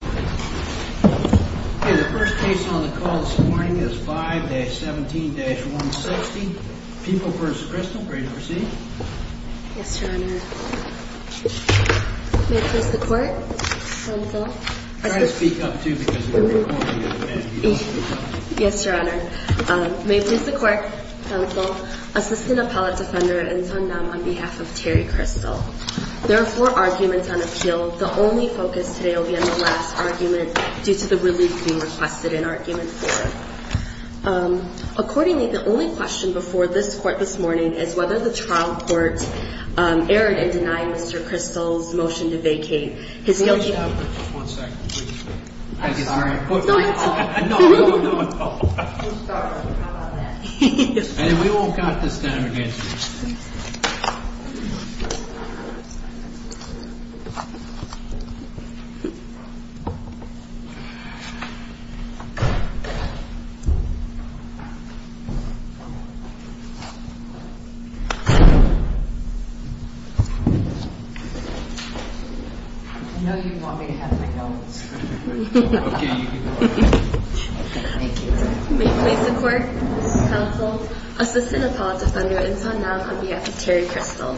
The first case on the call this morning is 5-17-160. People v. Cristel, are you ready to proceed? Yes, Your Honor. May it please the Court, counsel. Try to speak up too, because if you're recording it, you don't have to speak up. Yes, Your Honor. May it please the Court, counsel. Assistant Appellate Defender, In Sun Nam, on behalf of Terry Cristel. There are four arguments on appeal. The only focus today will be on the last argument due to the relief being requested in argument four. Accordingly, the only question before this Court this morning is whether the trial court erred in denying Mr. Cristel's motion to vacate his guilty plea. One second, please. I'm sorry. No, don't talk. No, no, no. I'm sorry. How about that? And we won't count this down against you. I know you want me to have my notes. Okay, you can go ahead. Thank you. May it please the Court, counsel. Assistant Appellate Defender, In Sun Nam, on behalf of Terry Cristel.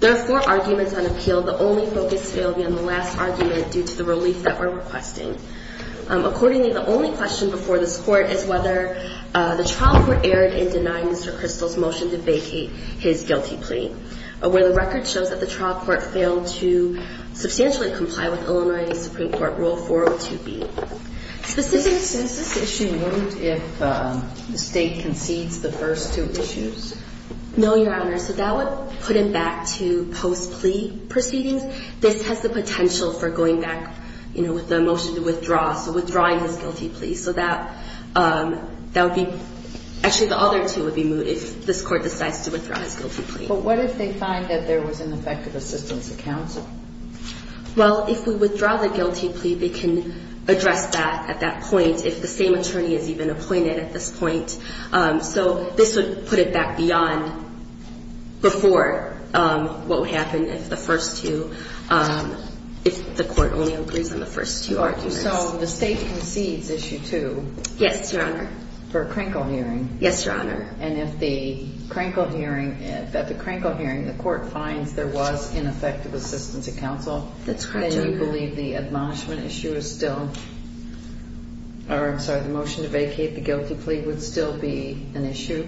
There are four arguments on appeal. The only focus today will be on the last argument due to the relief that we're requesting. Accordingly, the only question before this Court is whether the trial court erred in denying Mr. Cristel's motion to vacate his guilty plea, where the record shows that the trial court failed to substantially comply with Illinois Supreme Court Rule 402B. Is this issue moot if the State concedes the first two issues? No, Your Honor. So that would put him back to post-plea proceedings. This has the potential for going back, you know, with the motion to withdraw, so withdrawing his guilty plea. So that would be – actually, the other two would be moot if this Court decides to withdraw his guilty plea. But what if they find that there was ineffective assistance to counsel? Well, if we withdraw the guilty plea, they can address that at that point, if the same attorney is even appointed at this point. So this would put it back beyond before what would happen if the first two – if the Court only agrees on the first two arguments. All right. So the State concedes Issue 2. Yes, Your Honor. For a Krinkle hearing. Yes, Your Honor. And if the Krinkle hearing – if at the Krinkle hearing the Court finds there was ineffective assistance to counsel? That's correct, Your Honor. Then you believe the admonishment issue is still – or, I'm sorry, the motion to vacate the guilty plea would still be an issue?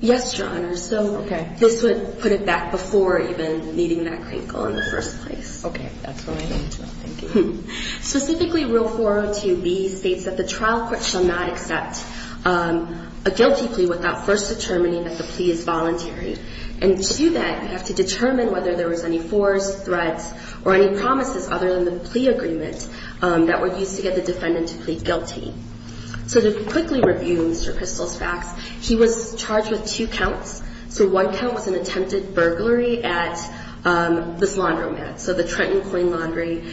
Yes, Your Honor. Okay. So this would put it back before even meeting that Krinkle in the first place. Okay. That's what I think, too. Thank you. Specifically, Rule 402B states that the trial court shall not accept a guilty plea without first determining that the plea is voluntary. And to do that, you have to determine whether there was any force, threats, or any promises other than the plea agreement that were used to get the defendant to plead guilty. So to quickly review Mr. Kristol's facts, he was charged with two counts. So one count was an attempted burglary at this laundromat, so the Trenton Coin Laundry.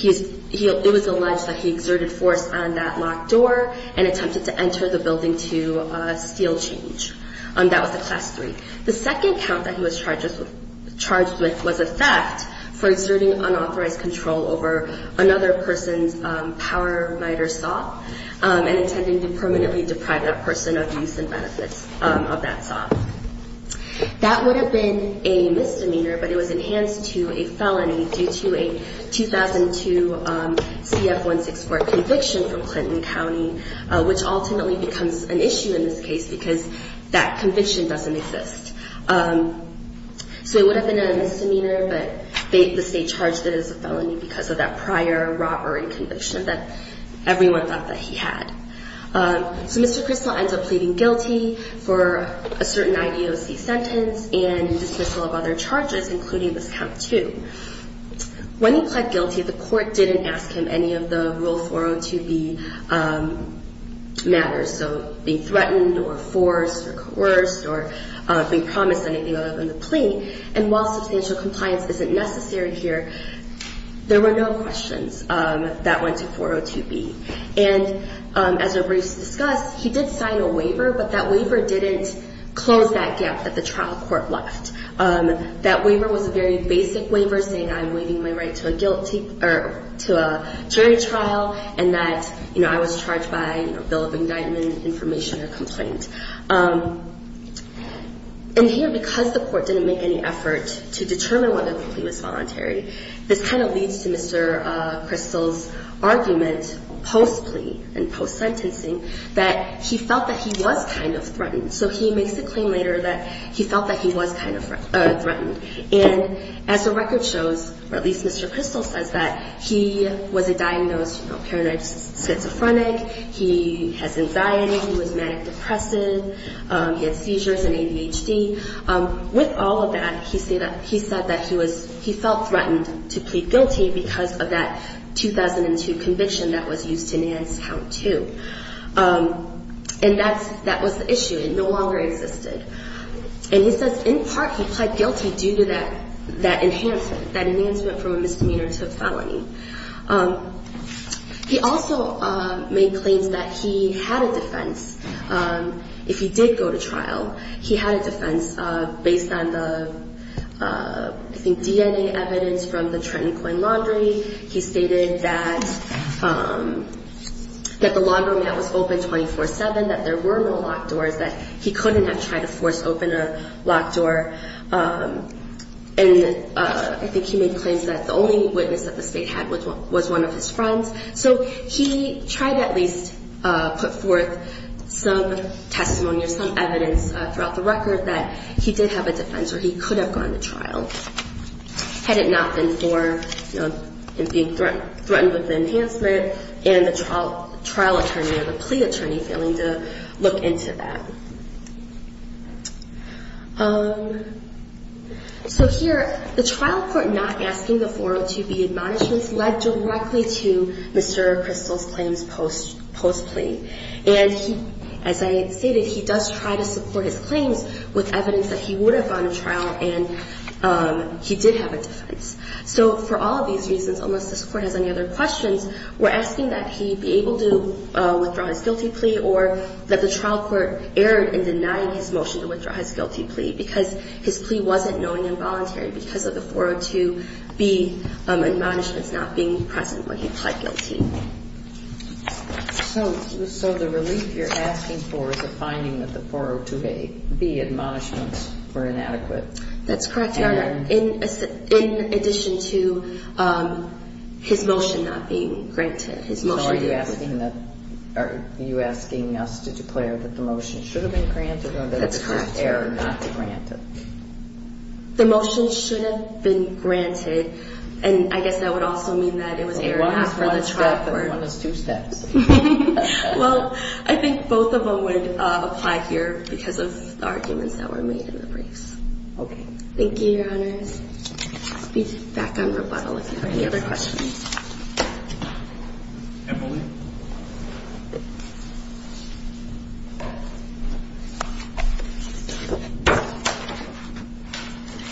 It was alleged that he exerted force on that locked door and attempted to enter the building to steal change. That was a Class III. The second count that he was charged with was a theft for exerting unauthorized control over another person's power miter saw and intending to permanently deprive that person of use and benefits of that saw. That would have been a misdemeanor, but it was enhanced to a felony due to a 2002 CF-164 conviction from Clinton County, which ultimately becomes an issue in this case because that conviction doesn't exist. So it would have been a misdemeanor, but the state charged it as a felony because of that prior robbery conviction that everyone thought that he had. So Mr. Kristol ends up pleading guilty for a certain IDOC sentence and dismissal of other charges, including this count, too. When he pled guilty, the court didn't ask him any of the Rule 402B matters, so being threatened or forced or coerced or being promised anything other than the plea, and while substantial compliance isn't necessary here, there were no questions that went to 402B. And as we briefly discussed, he did sign a waiver, but that waiver didn't close that gap that the trial court left. That waiver was a very basic waiver saying I'm waiving my right to a jury trial and that I was charged by a bill of indictment, information, or complaint. And here, because the court didn't make any effort to determine whether the plea was voluntary, this kind of leads to Mr. Kristol's argument post-plea and post-sentencing that he felt that he was kind of threatened. So he makes a claim later that he felt that he was kind of threatened, and as the record shows, or at least Mr. Kristol says that, he was a diagnosed paranoid schizophrenic, he has anxiety, he was manic depressive, he had seizures and ADHD. With all of that, he said that he felt threatened to plead guilty because of that 2002 conviction that was used to enhance count two. And that was the issue. It no longer existed. And he says in part he pled guilty due to that enhancement from a misdemeanor to a felony. He also made claims that he had a defense if he did go to trial. He had a defense based on the DNA evidence from the Trenton Coin Laundry. He stated that the laundromat was open 24-7, that there were no locked doors, that he couldn't have tried to force open a locked door. And I think he made claims that the only witness that the state had was one of his friends. So he tried to at least put forth some testimony or some evidence throughout the record that he did have a defense or he could have gone to trial. Had it not been for him being threatened with the enhancement and the trial attorney or the plea attorney failing to look into that. So here, the trial court not asking the 402B admonishments led directly to Mr. Crystal's claims post-plea. And he, as I stated, he does try to support his claims with evidence that he would have gone to trial and he did have a defense. So for all of these reasons, unless this court has any other questions, we're asking that he be able to withdraw his guilty plea or that the trial court erred in denying his motion to withdraw his guilty plea. Because his plea wasn't knowing and voluntary because of the 402B admonishments not being present when he pled guilty. So the relief you're asking for is a finding that the 402B admonishments were inadequate? That's correct, Your Honor. In addition to his motion not being granted. So are you asking us to declare that the motion should have been granted or that it was erred not to grant it? The motion should have been granted and I guess that would also mean that it was erred not for the trial. Well, I think both of them would apply here because of the arguments that were made in the briefs. Okay. Thank you, Your Honor. I'll be back on rebuttal if you have any other questions. Emily?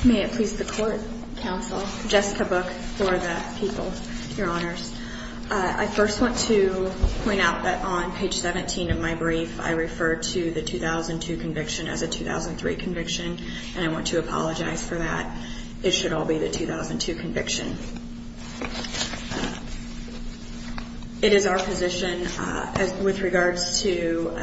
May it please the Court, Counsel, Jessica Book for the people, Your Honors. I first want to point out that on page 17 of my brief, I referred to the 2002 conviction as a 2003 conviction and I want to apologize for that. It should all be the 2002 conviction. It is our position with regards to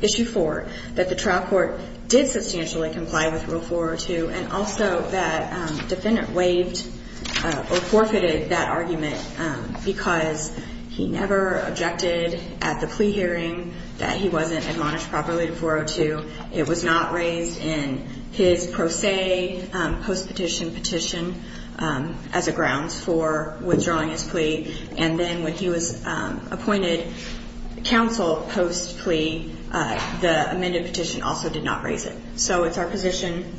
Issue 4 that the trial court did substantially comply with Rule 402 and also that defendant waived or forfeited that argument because he never objected at the plea hearing that he wasn't admonished properly to 402. It was not raised in his pro se post-petition petition as a grounds for withdrawing his plea. And then when he was appointed counsel post-plea, the amended petition also did not raise it. So it's our position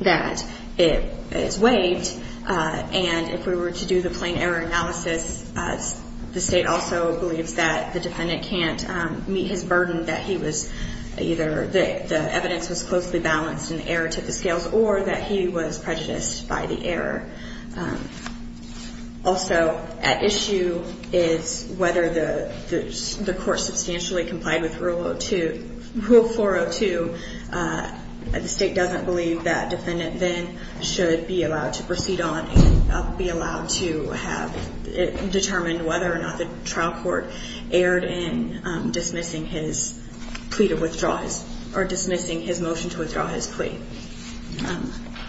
that it is waived. And if we were to do the plain error analysis, the State also believes that the defendant can't meet his burden that he was either dismissed or that the evidence was closely balanced in the error to the scales or that he was prejudiced by the error. Also at issue is whether the Court substantially complied with Rule 402. The State doesn't believe that defendant then should be allowed to proceed on and be allowed to have a plea hearing that determined whether or not the trial court erred in dismissing his plea to withdraw his or dismissing his motion to withdraw his plea.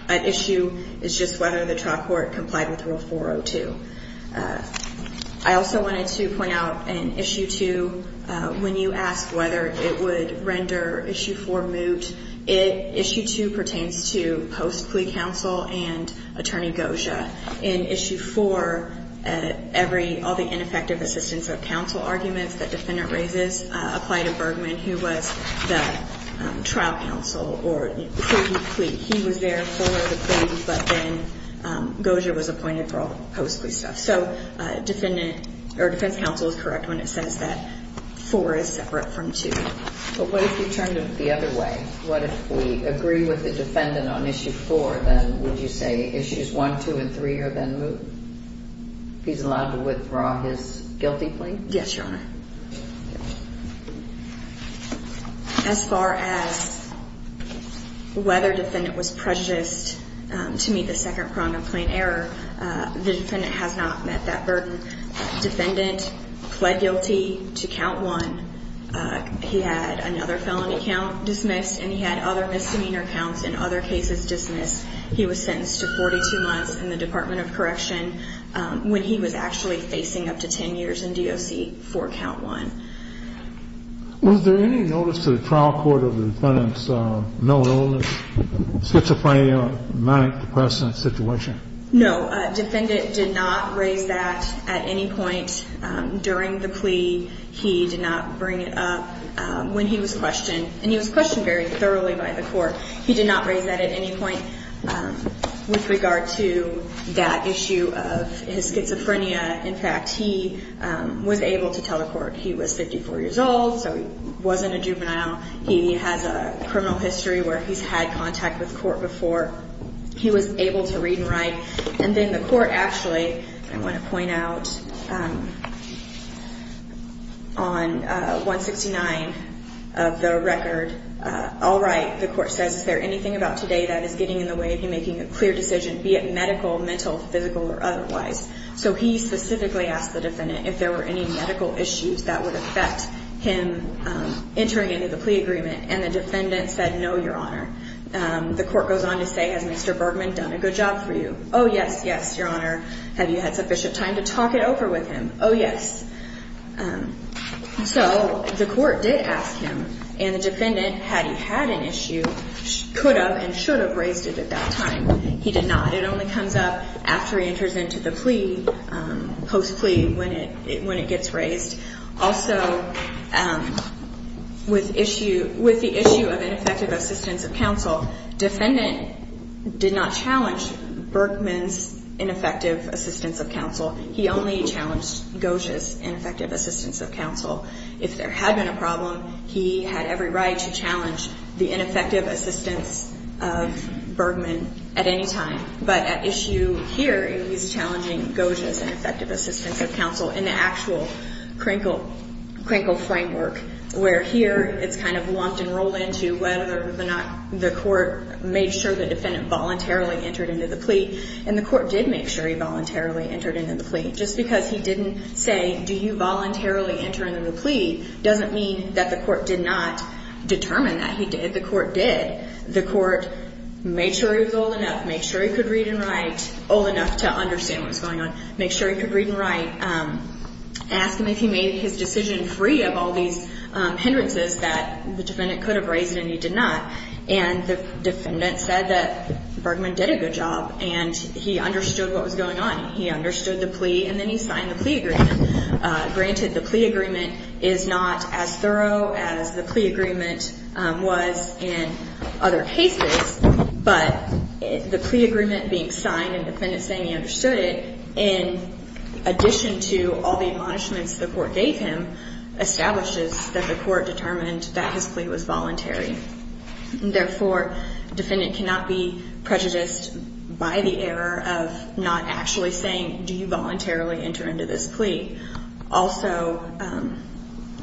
At issue is just whether the trial court complied with Rule 402. I also wanted to point out in Issue 2, when you ask whether it would render Issue 4 moot, Issue 2 pertains to post-plea counsel and Attorney Gosia. In Issue 4, all the ineffective assistance of counsel arguments that defendant raises apply to Bergman, who was the trial counsel or plea. He was there for the plea, but then Gosia was appointed for all the post-plea stuff. So defense counsel is correct when it says that 4 is separate from 2. But what if we turned it the other way? What if we agree with the defendant on Issue 4, then would you say Issues 1, 2, and 3 are then moot? If he's allowed to withdraw his guilty plea? Yes, Your Honor. As far as whether defendant was prejudiced to meet the second prong of plain error, the defendant has not met that burden. Defendant pled guilty to Count 1. He had another felony count dismissed, and he had other misdemeanor counts in other cases dismissed. He was sentenced to 42 months in the Department of Correction when he was actually facing up to 10 years in DOC for Count 1. Was there any notice to the trial court of the defendant's known illness, schizophrenia, manic-depressant situation? No. Defendant did not raise that at any point during the plea. He did not bring it up when he was questioned, and he was questioned very thoroughly by the court. He did not raise that at any point with regard to that issue of his schizophrenia. In fact, he was able to tell the court he was 54 years old, so he wasn't a juvenile. He has a criminal history where he's had contact with court before. He was able to read and write, and then the court actually, I want to point out, on 169 of the record, all right, the court says, is there anything about today that is getting in the way of him making a clear decision, be it medical, mental, physical, or otherwise? So he specifically asked the defendant if there were any medical issues that would affect him entering into the plea agreement, and the defendant said, no, Your Honor. The court goes on to say, has Mr. Bergman done a good job for you? Oh, yes, yes, Your Honor. Have you had sufficient time to talk it over with him? Oh, yes. So the court did ask him, and the defendant, had he had an issue, could have and should have raised it at that time. He did not. It only comes up after he enters into the plea, post-plea, when it gets raised. Also, with issue, with the issue of ineffective assistance of counsel, defendant did not challenge Bergman's ineffective assistance of counsel. He only challenged Goja's ineffective assistance of counsel. If there had been a problem, he had every right to challenge the ineffective assistance of Bergman at any time. But at issue here, he's challenging Goja's ineffective assistance of counsel in the actual crinkle framework, where here it's kind of lumped and rolled into whether or not the court made sure the defendant voluntarily entered into the plea. And the court did make sure he voluntarily entered into the plea. Just because he didn't say, do you voluntarily enter into the plea, doesn't mean that the court did not determine that he did. The court did. The court made sure he was old enough, made sure he could read and write, old enough to understand what was going on, made sure he could read and write, asked him if he made his decision free of all these hindrances that the defendant could have raised and he did not. And the defendant said that Bergman did a good job, and he understood what was going on. He understood the plea, and then he signed the plea agreement. Granted, the plea agreement is not as thorough as the plea agreement was in other cases, but the plea agreement being signed and the defendant saying he understood it, in addition to all the admonishments the court gave him, establishes that the court determined that his plea was voluntary. Therefore, the defendant cannot be prejudiced by the error of not actually saying, do you voluntarily enter into this plea? Also,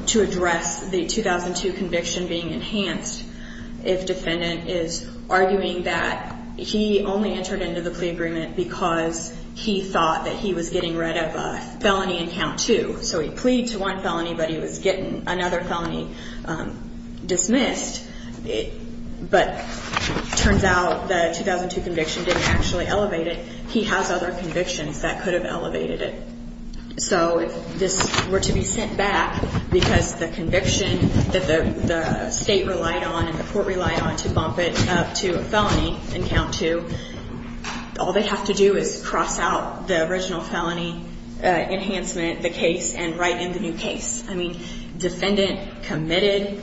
to address the 2002 conviction being enhanced, if defendant is arguing that he only entered into the plea agreement because he thought that he was getting rid of a felony in count two. So he pleaded to one felony, but he was getting another felony dismissed, but it turns out the 2002 conviction didn't actually elevate it. He has other convictions that could have elevated it. So if this were to be sent back because the conviction that the state relied on and the court relied on to bump it up to a felony in count two, all they'd have to do is cross out the original felony enhancement, the case, and write in the new case. I mean, defendant committed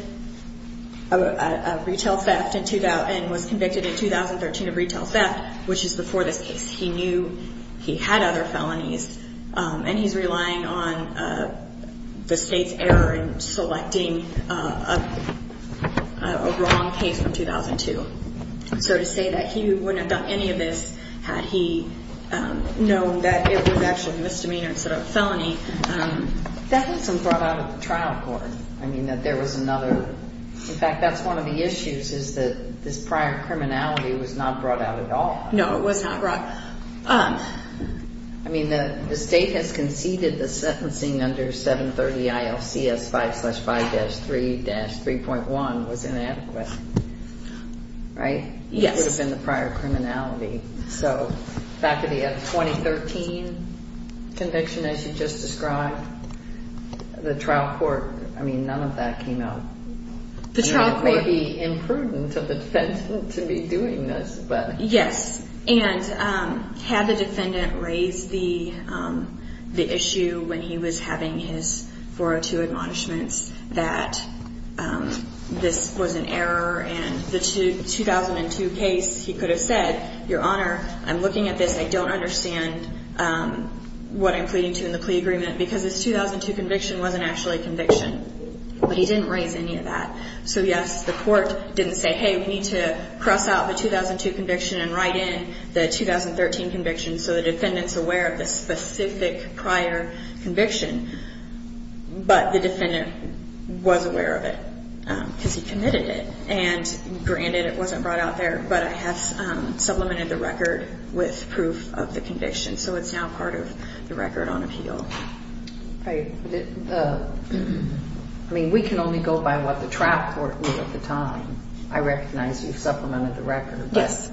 a retail theft and was convicted in 2013 of retail theft, which is before this case. He knew he had other felonies, and he's relying on the state's error in selecting a wrong case from 2002. So to say that he wouldn't have done any of this had he known that it was actually misdemeanor instead of felony. That wasn't brought out of the trial court. In fact, that's one of the issues, is that this prior criminality was not brought out at all. No, it was not brought out. I mean, the state has conceded the sentencing under 730 ILCS 5-5-3-3.1 was inadequate, right? Yes. It would have been the prior criminality. So back to the 2013 conviction, as you just described, the trial court, I mean, none of that came out. It may be imprudent of the defendant to be doing this, but... Yes, and had the defendant raised the issue when he was having his 402 admonishments that this was an error, and the 2002 case, he could have said, Your Honor, I'm looking at this. I don't understand what I'm pleading to in the plea agreement, because this 2002 conviction wasn't actually a conviction. But he didn't raise any of that. So, yes, the court didn't say, hey, we need to cross out the 2002 conviction and write in the 2013 conviction so the defendant's aware of the specific prior conviction. But the defendant was aware of it, because he committed it. And granted, it wasn't brought out there, but I have supplemented the record with proof of the conviction. So it's now part of the record on appeal. I mean, we can only go by what the trial court knew at the time. I recognize you've supplemented the record. Yes.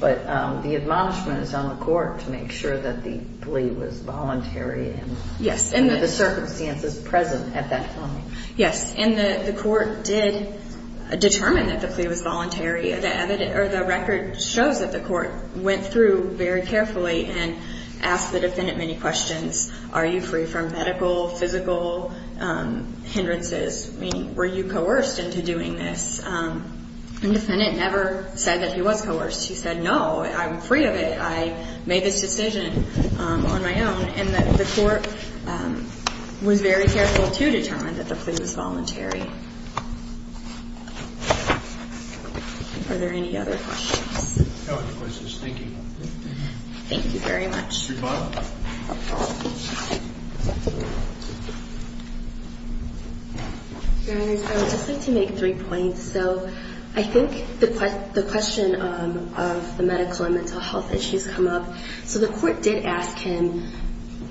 But the admonishment is on the court to make sure that the plea was voluntary under the circumstances present at that time. Yes, and the court did determine that the plea was voluntary. The record shows that the court went through very carefully and asked the defendant many questions. Are you free from medical, physical hindrances? I mean, were you coerced into doing this? And the defendant never said that he was coerced. He said, no, I'm free of it. I made this decision on my own. And the court was very careful to determine that the plea was voluntary. Are there any other questions? Thank you. I would just like to make three points. So I think the question of the medical and mental health issues come up. So the court did ask him,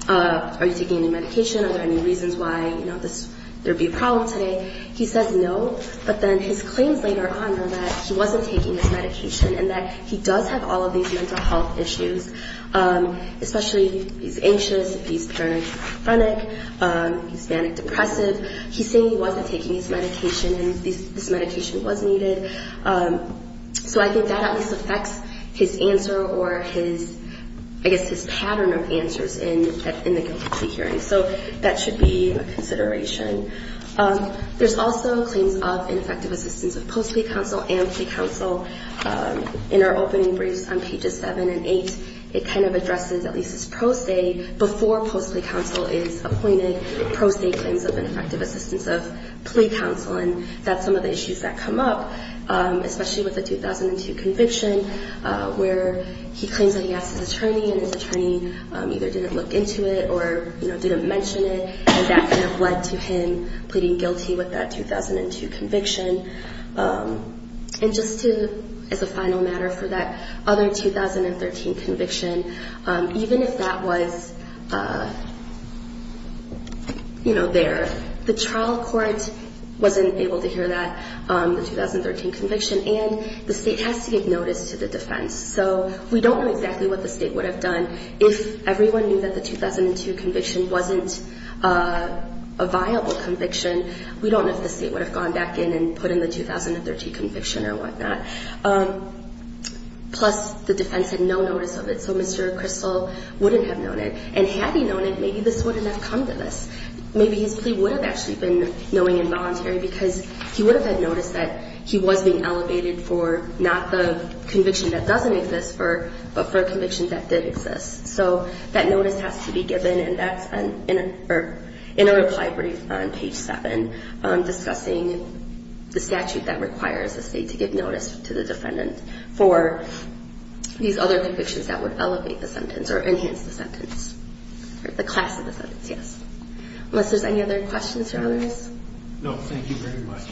are you taking any medication? Are there any reasons why there would be a problem today? He says no, but then his claims later on are that he wasn't taking his medication and that he does have all of these mental health issues, especially he's anxious, he's very chronic, he's manic-depressive. He's saying he wasn't taking his medication and this medication was needed. So I think that at least affects his answer or his, I guess, his pattern of answers in the guilty plea hearing. So that should be a consideration. There's also claims of ineffective assistance of post-plea counsel and plea counsel. In our opening briefs on pages 7 and 8, it kind of addresses at least this pro se before post-plea counsel is appointed, pro se claims of ineffective assistance of plea counsel, and that's some of the issues that come up, especially with the 2002 conviction where he claims that he asked his attorney and his attorney either didn't look into it or, you know, didn't mention it, and that kind of led to him pleading guilty with that 2002 conviction. And just to, as a final matter for that other 2013 conviction, even if that was, you know, there, the trial court wasn't able to hear that, the 2013 conviction, and the state has to give notice to the defense. So we don't know exactly what the state would have done if everyone knew that the 2002 conviction wasn't a viable conviction. We don't know if the state would have gone back in and put in the 2013 conviction or whatnot. Plus, the defense had no notice of it, so Mr. Crystal wouldn't have known it. And had he known it, maybe this wouldn't have come to this. Maybe his plea would have actually been knowing and voluntary because he would have had notice that he was being elevated for not the conviction that doesn't exist, but for a conviction that did exist. So that notice has to be given, and that's in a reply brief on page 7 discussing the statute that requires the state to give notice to the defendant for these other convictions that would elevate the sentence or enhance the sentence, or the class of the sentence, yes. Unless there's any other questions for others? No, thank you very much.